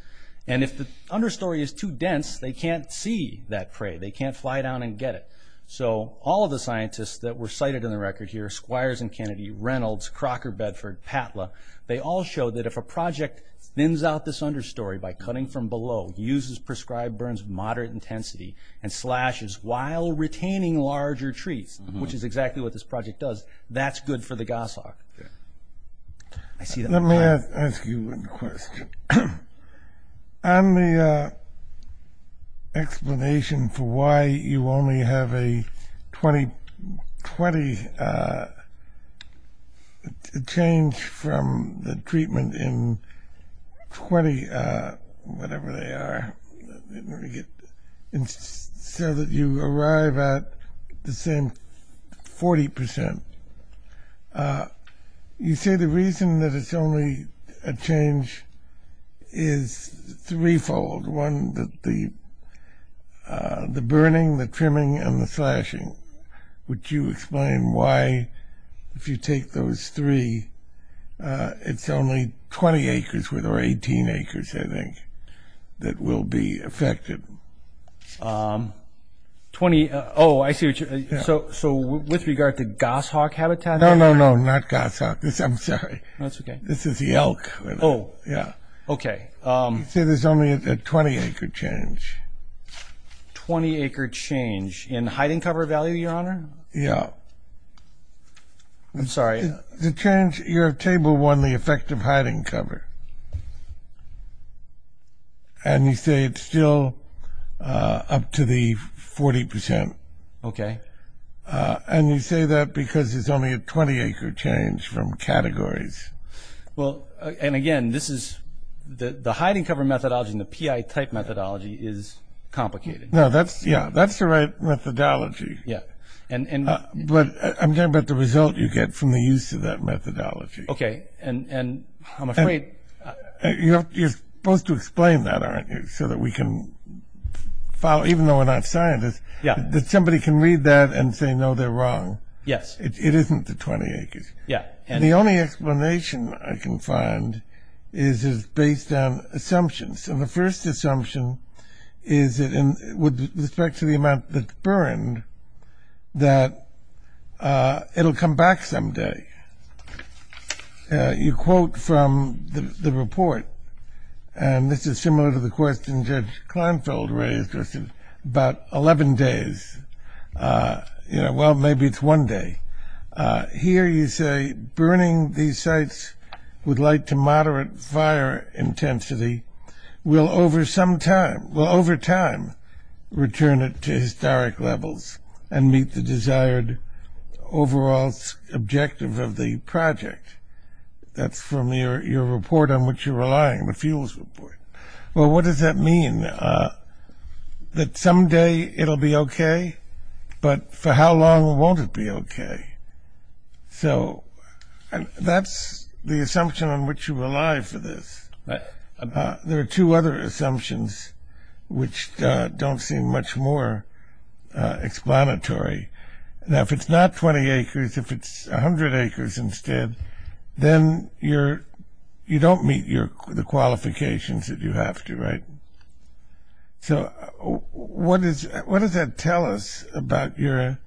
And if the understory is too dense, they can't see that prey. They can't fly down and get it. So all of the scientists that were cited in the record here, Squires and Kennedy, Reynolds, Crocker Bedford, Patla, they all showed that if a project thins out this understory by cutting from below, uses prescribed burns of moderate intensity, and slashes while retaining larger trees, which is exactly what this project does, that's good for the goshawk. Let me ask you a question. On the explanation for why you only have a 20 change from the treatment in 20, whatever they are, so that you arrive at the same 40%, you say the reason that it's only a change is threefold. One, the burning, the trimming, and the slashing. Would you explain why, if you take those three, it's only 20 acres, or 18 acres, I think, that will be affected? Oh, I see what you're saying. So with regard to goshawk habitat? No, no, no, not goshawk. I'm sorry. That's okay. This is the elk. Oh, okay. You say there's only a 20 acre change. 20 acre change in hiding cover value, Your Honor? Yeah. I'm sorry. The change, you're at table one, the effect of hiding cover. And you say it's still up to the 40%. Okay. And you say that because it's only a 20 acre change from categories. Well, and again, this is, the hiding cover methodology and the PI type methodology is complicated. No, that's, yeah, that's the right methodology. Yeah. But I'm talking about the result you get from the use of that methodology. Okay. And I'm afraid. You're supposed to explain that, aren't you, so that we can follow, even though we're not scientists, that somebody can read that and say, no, they're wrong. Yes. It isn't the 20 acres. Yeah. And the only explanation I can find is it's based on assumptions. And the first assumption is that with respect to the amount that's burned, that it'll come back someday. You quote from the report, and this is similar to the question Judge Klinefeld raised, about 11 days. You know, well, maybe it's one day. Here you say burning these sites with light to moderate fire intensity will over some time, will over time return it to historic levels and meet the desired overall objective of the project. That's from your report on which you're relying, the fuels report. Well, what does that mean? That someday it'll be okay, but for how long won't it be okay? So that's the assumption on which you rely for this. There are two other assumptions which don't seem much more explanatory. Now, if it's not 20 acres, if it's 100 acres instead, then you don't meet the qualifications that you have to, right? So what does that tell us about your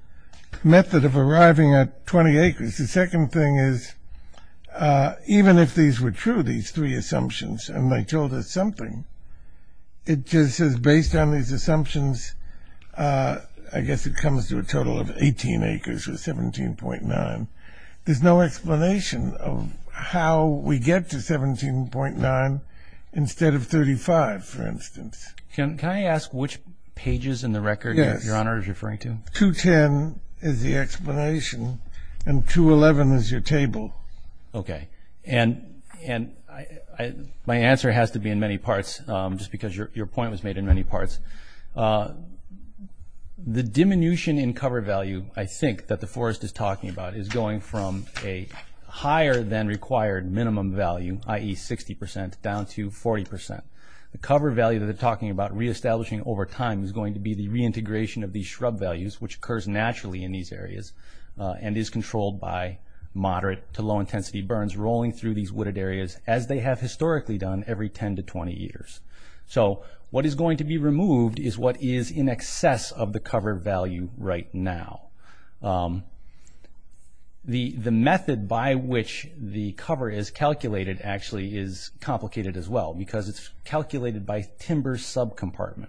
method of arriving at 20 acres? The second thing is even if these were true, these three assumptions, and they told us something, it just says based on these assumptions, I guess it comes to a total of 18 acres or 17.9. There's no explanation of how we get to 17.9 instead of 35, for instance. Can I ask which pages in the record Your Honor is referring to? 210 is the explanation, and 211 is your table. Okay, and my answer has to be in many parts just because your point was made in many parts. The diminution in cover value, I think, that the forest is talking about is going from a higher than required minimum value, i.e. 60%, down to 40%. The cover value that they're talking about reestablishing over time is going to be the reintegration of these shrub values, which occurs naturally in these areas and is controlled by moderate to low intensity burns rolling through these wooded areas as they have historically done every 10 to 20 years. So what is going to be removed is what is in excess of the cover value right now. The method by which the cover is calculated actually is complicated as well because it's calculated by timber subcompartment.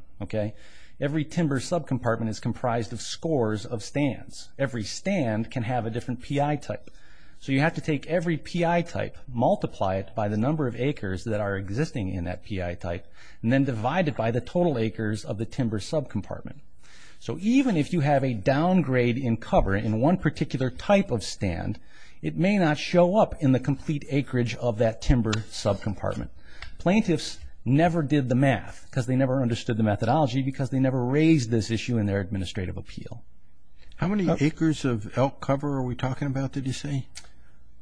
Every timber subcompartment is comprised of scores of stands. Every stand can have a different PI type. So you have to take every PI type, multiply it by the number of acres that are existing in that PI type, and then divide it by the total acres of the timber subcompartment. So even if you have a downgrade in cover in one particular type of stand, it may not show up in the complete acreage of that timber subcompartment. Plaintiffs never did the math because they never understood the methodology because they never raised this issue in their administrative appeal. How many acres of elk cover are we talking about, did you say?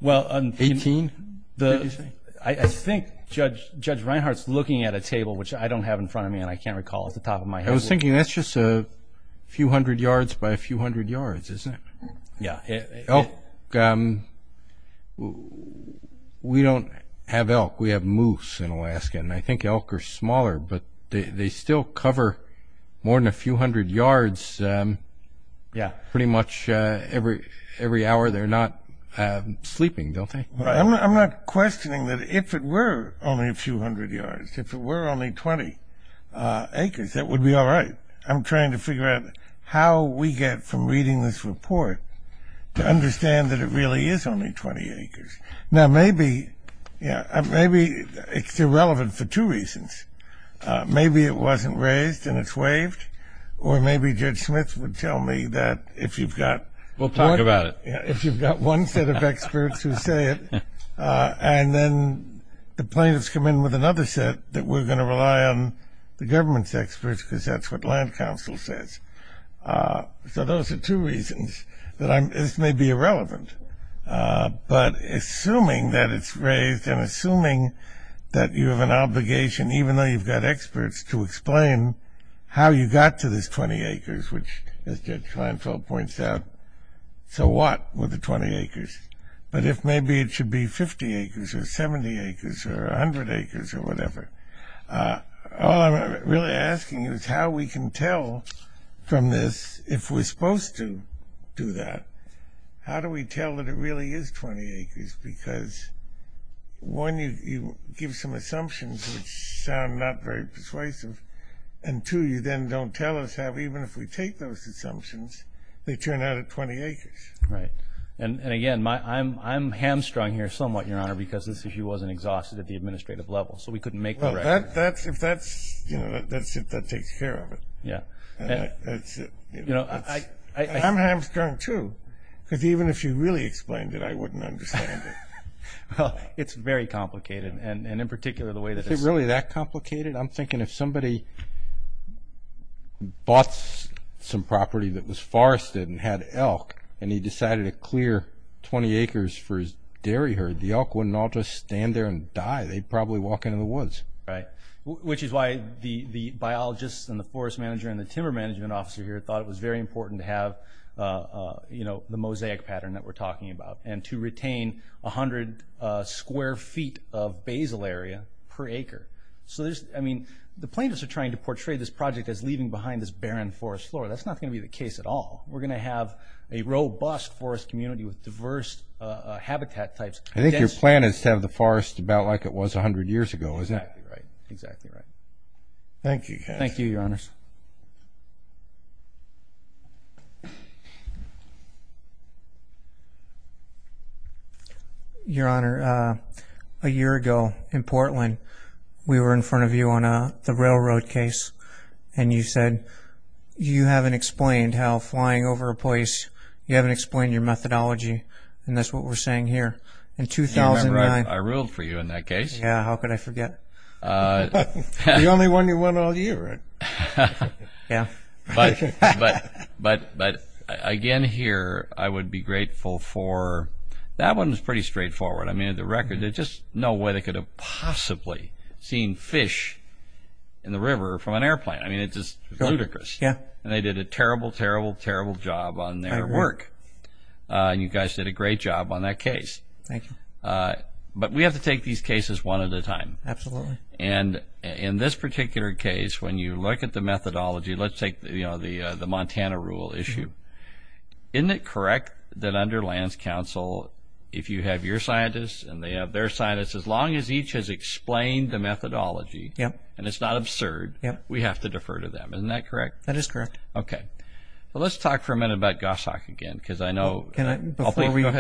Eighteen, did you say? I think Judge Reinhart's looking at a table, which I don't have in front of me and I can't recall off the top of my head. I was thinking that's just a few hundred yards by a few hundred yards, isn't it? Yeah. Elk, we don't have elk. We have moose in Alaska, and I think elk are smaller, but they still cover more than a few hundred yards pretty much every hour. They're not sleeping, don't they? I'm not questioning that if it were only a few hundred yards, if it were only 20 acres, that would be all right. I'm trying to figure out how we get from reading this report to understand that it really is only 20 acres. Now, maybe it's irrelevant for two reasons. Maybe it wasn't raised and it's waived, or maybe Judge Smith would tell me that if you've got one set of experts who say it and then the plaintiffs come in with another set that we're going to rely on the government's experts because that's what land council says. So those are two reasons. This may be irrelevant, but assuming that it's raised and assuming that you have an obligation, even though you've got experts, to explain how you got to this 20 acres, which, as Judge Kleinfeld points out, so what with the 20 acres? But if maybe it should be 50 acres or 70 acres or 100 acres or whatever, all I'm really asking is how we can tell from this, if we're supposed to do that, how do we tell that it really is 20 acres? Because, one, you give some assumptions which sound not very persuasive, and, two, you then don't tell us how, even if we take those assumptions, they turn out at 20 acres. Right. And, again, I'm hamstrung here somewhat, Your Honor, because this issue wasn't exhausted at the administrative level, so we couldn't make the record. Well, if that's it, that takes care of it. Yeah. That's it. I'm hamstrung, too, because even if you really explained it, I wouldn't understand it. Well, it's very complicated, and in particular the way that it's ‑‑ Is it really that complicated? I'm thinking if somebody bought some property that was forested and had elk and he decided to clear 20 acres for his dairy herd, the elk wouldn't all just stand there and die. They'd probably walk into the woods. Right, which is why the biologists and the forest manager and the timber management officer here thought it was very important to have, you know, the mosaic pattern that we're talking about and to retain 100 square feet of basal area per acre. I mean, the plaintiffs are trying to portray this project as leaving behind this barren forest floor. That's not going to be the case at all. We're going to have a robust forest community with diverse habitat types. I think your plan is to have the forest about like it was 100 years ago, isn't it? Exactly right, exactly right. Thank you. Thank you, Your Honors. Your Honor, a year ago in Portland we were in front of you on the railroad case and you said you haven't explained how flying over a place, you haven't explained your methodology, and that's what we're saying here. You remember I ruled for you in that case. Yeah, how could I forget? The only one you won all year, right? Yeah. But, again, here I would be grateful for that one was pretty straightforward. I mean, the record, there's just no way they could have possibly seen fish in the river from an airplane. I mean, it's just ludicrous. And they did a terrible, terrible, terrible job on their work. You guys did a great job on that case. Thank you. But we have to take these cases one at a time. Absolutely. And in this particular case, when you look at the methodology, let's take the Montana rule issue. Isn't it correct that under Lance Counsel, if you have your scientists and they have their scientists, as long as each has explained the methodology and it's not absurd, we have to defer to them. Isn't that correct? That is correct. Okay. Well, let's talk for a minute about Goshawk again because I know… Go ahead.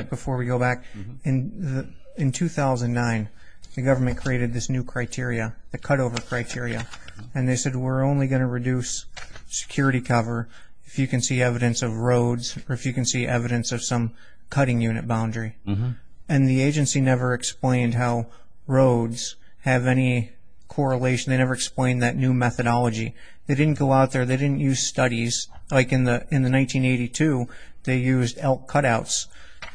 Before we go back. In 2009, the government created this new criteria, the cutover criteria, and they said we're only going to reduce security cover if you can see evidence of roads or if you can see evidence of some cutting unit boundary. And the agency never explained how roads have any correlation. They never explained that new methodology. They didn't go out there. They didn't use studies. Like in the 1982, they used elk cutouts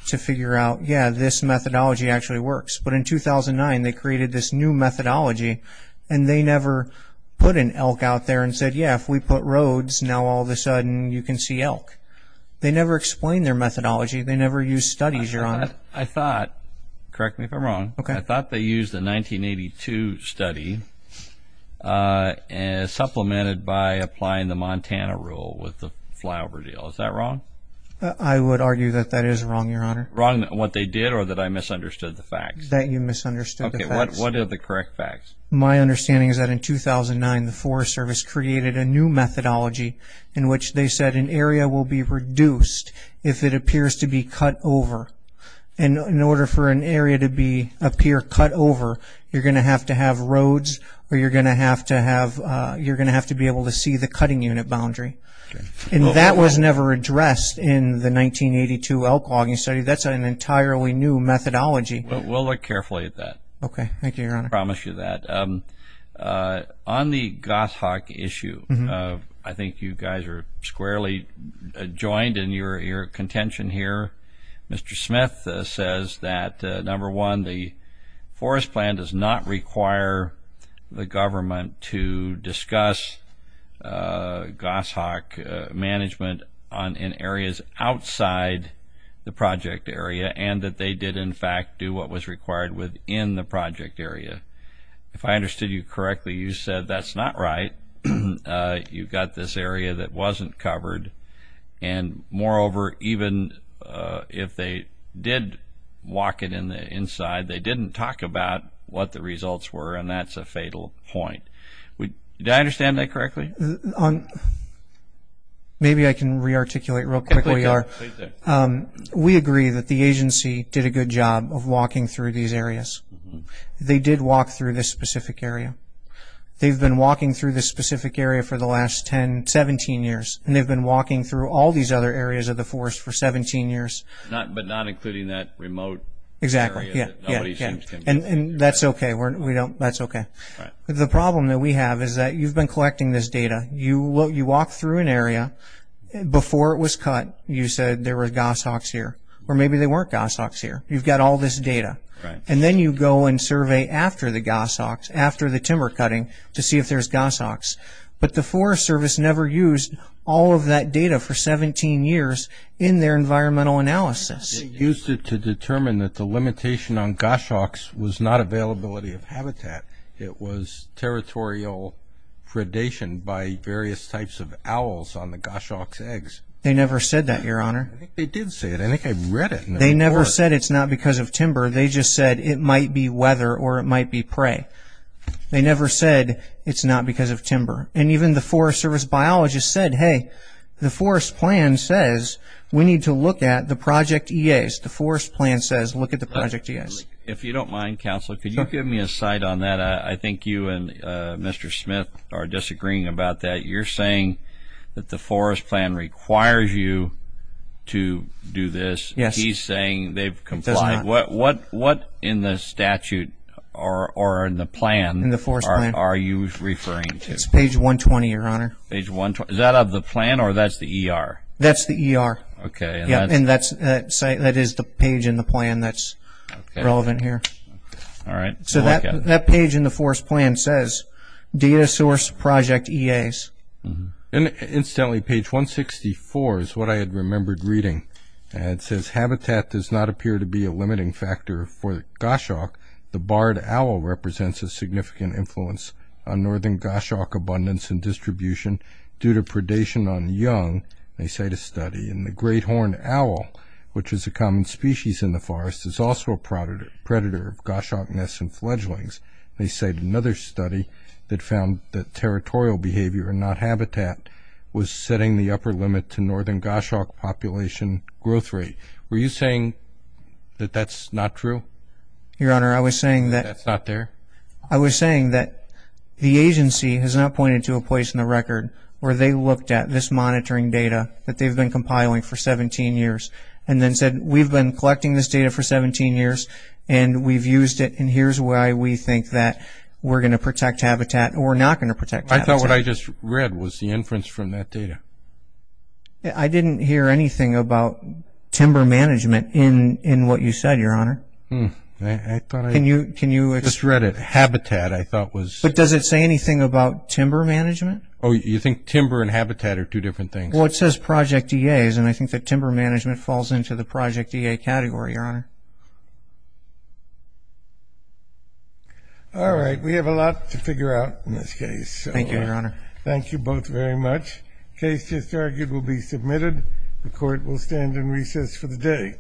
to figure out, yeah, this methodology actually works. But in 2009, they created this new methodology, and they never put an elk out there and said, yeah, if we put roads, now all of a sudden you can see elk. They never explained their methodology. They never used studies, Your Honor. I thought, correct me if I'm wrong, I thought they used a 1982 study supplemented by applying the Montana rule with the flyover deal. Is that wrong? I would argue that that is wrong, Your Honor. Wrong in what they did or that I misunderstood the facts? That you misunderstood the facts. Okay, what are the correct facts? My understanding is that in 2009, the Forest Service created a new methodology in which they said an area will be reduced if it appears to be cut over. And in order for an area to appear cut over, you're going to have to have roads or you're going to have to be able to see the cutting unit boundary. And that was never addressed in the 1982 elk logging study. That's an entirely new methodology. We'll look carefully at that. Okay, thank you, Your Honor. I promise you that. On the goshawk issue, I think you guys are squarely joined in your contention here. Mr. Smith says that, number one, the forest plan does not require the government to discuss goshawk management in areas outside the project area and that they did, in fact, do what was required within the project area. If I understood you correctly, you said that's not right. You've got this area that wasn't covered. And, moreover, even if they did walk it inside, they didn't talk about what the results were, and that's a fatal point. Do I understand that correctly? Maybe I can rearticulate real quickly. We agree that the agency did a good job of walking through these areas. They did walk through this specific area. They've been walking through this specific area for the last 10, 17 years, and they've been walking through all these other areas of the forest for 17 years. But not including that remote area. Exactly, yeah. And that's okay. The problem that we have is that you've been collecting this data. You walk through an area. Before it was cut, you said there were goshawks here, or maybe there weren't goshawks here. You've got all this data. And then you go and survey after the goshawks, after the timber cutting, to see if there's goshawks. But the Forest Service never used all of that data for 17 years in their environmental analysis. They used it to determine that the limitation on goshawks was not availability of habitat. It was territorial predation by various types of owls on the goshawks' eggs. They never said that, Your Honor. I think they did say it. I think I read it in the report. They never said it's not because of timber. They just said it might be weather or it might be prey. They never said it's not because of timber. And even the Forest Service biologist said, hey, the Forest Plan says we need to look at the Project EAs. The Forest Plan says look at the Project EAs. If you don't mind, Counselor, could you give me a side on that? I think you and Mr. Smith are disagreeing about that. You're saying that the Forest Plan requires you to do this. He's saying they've complied. It does not. What in the statute or in the plan are you referring to? It's page 120, Your Honor. Is that of the plan or that's the ER? That's the ER. And that is the page in the plan that's relevant here. So that page in the Forest Plan says data source Project EAs. Incidentally, page 164 is what I had remembered reading. And it says habitat does not appear to be a limiting factor for goshawk. The barred owl represents a significant influence on northern goshawk abundance and distribution due to predation on young, they cite a study. And the great horned owl, which is a common species in the forest, is also a predator of goshawk nests and fledglings. They cite another study that found that territorial behavior, not habitat, was setting the upper limit to northern goshawk population growth rate. Were you saying that that's not true? Your Honor, I was saying that the agency has not pointed to a place in the record where they looked at this monitoring data that they've been compiling for 17 years and then said, we've been collecting this data for 17 years and we've used it and here's why we think that we're going to protect habitat or we're not going to protect habitat. I thought what I just read was the inference from that data. I didn't hear anything about timber management in what you said, Your Honor. I just read it. Habitat, I thought was. But does it say anything about timber management? Oh, you think timber and habitat are two different things? Well, it says Project EAs and I think that timber management falls into the Project EA category, Your Honor. All right. We have a lot to figure out in this case. Thank you, Your Honor. Thank you both very much. The case just argued will be submitted. The court will stand in recess for the day.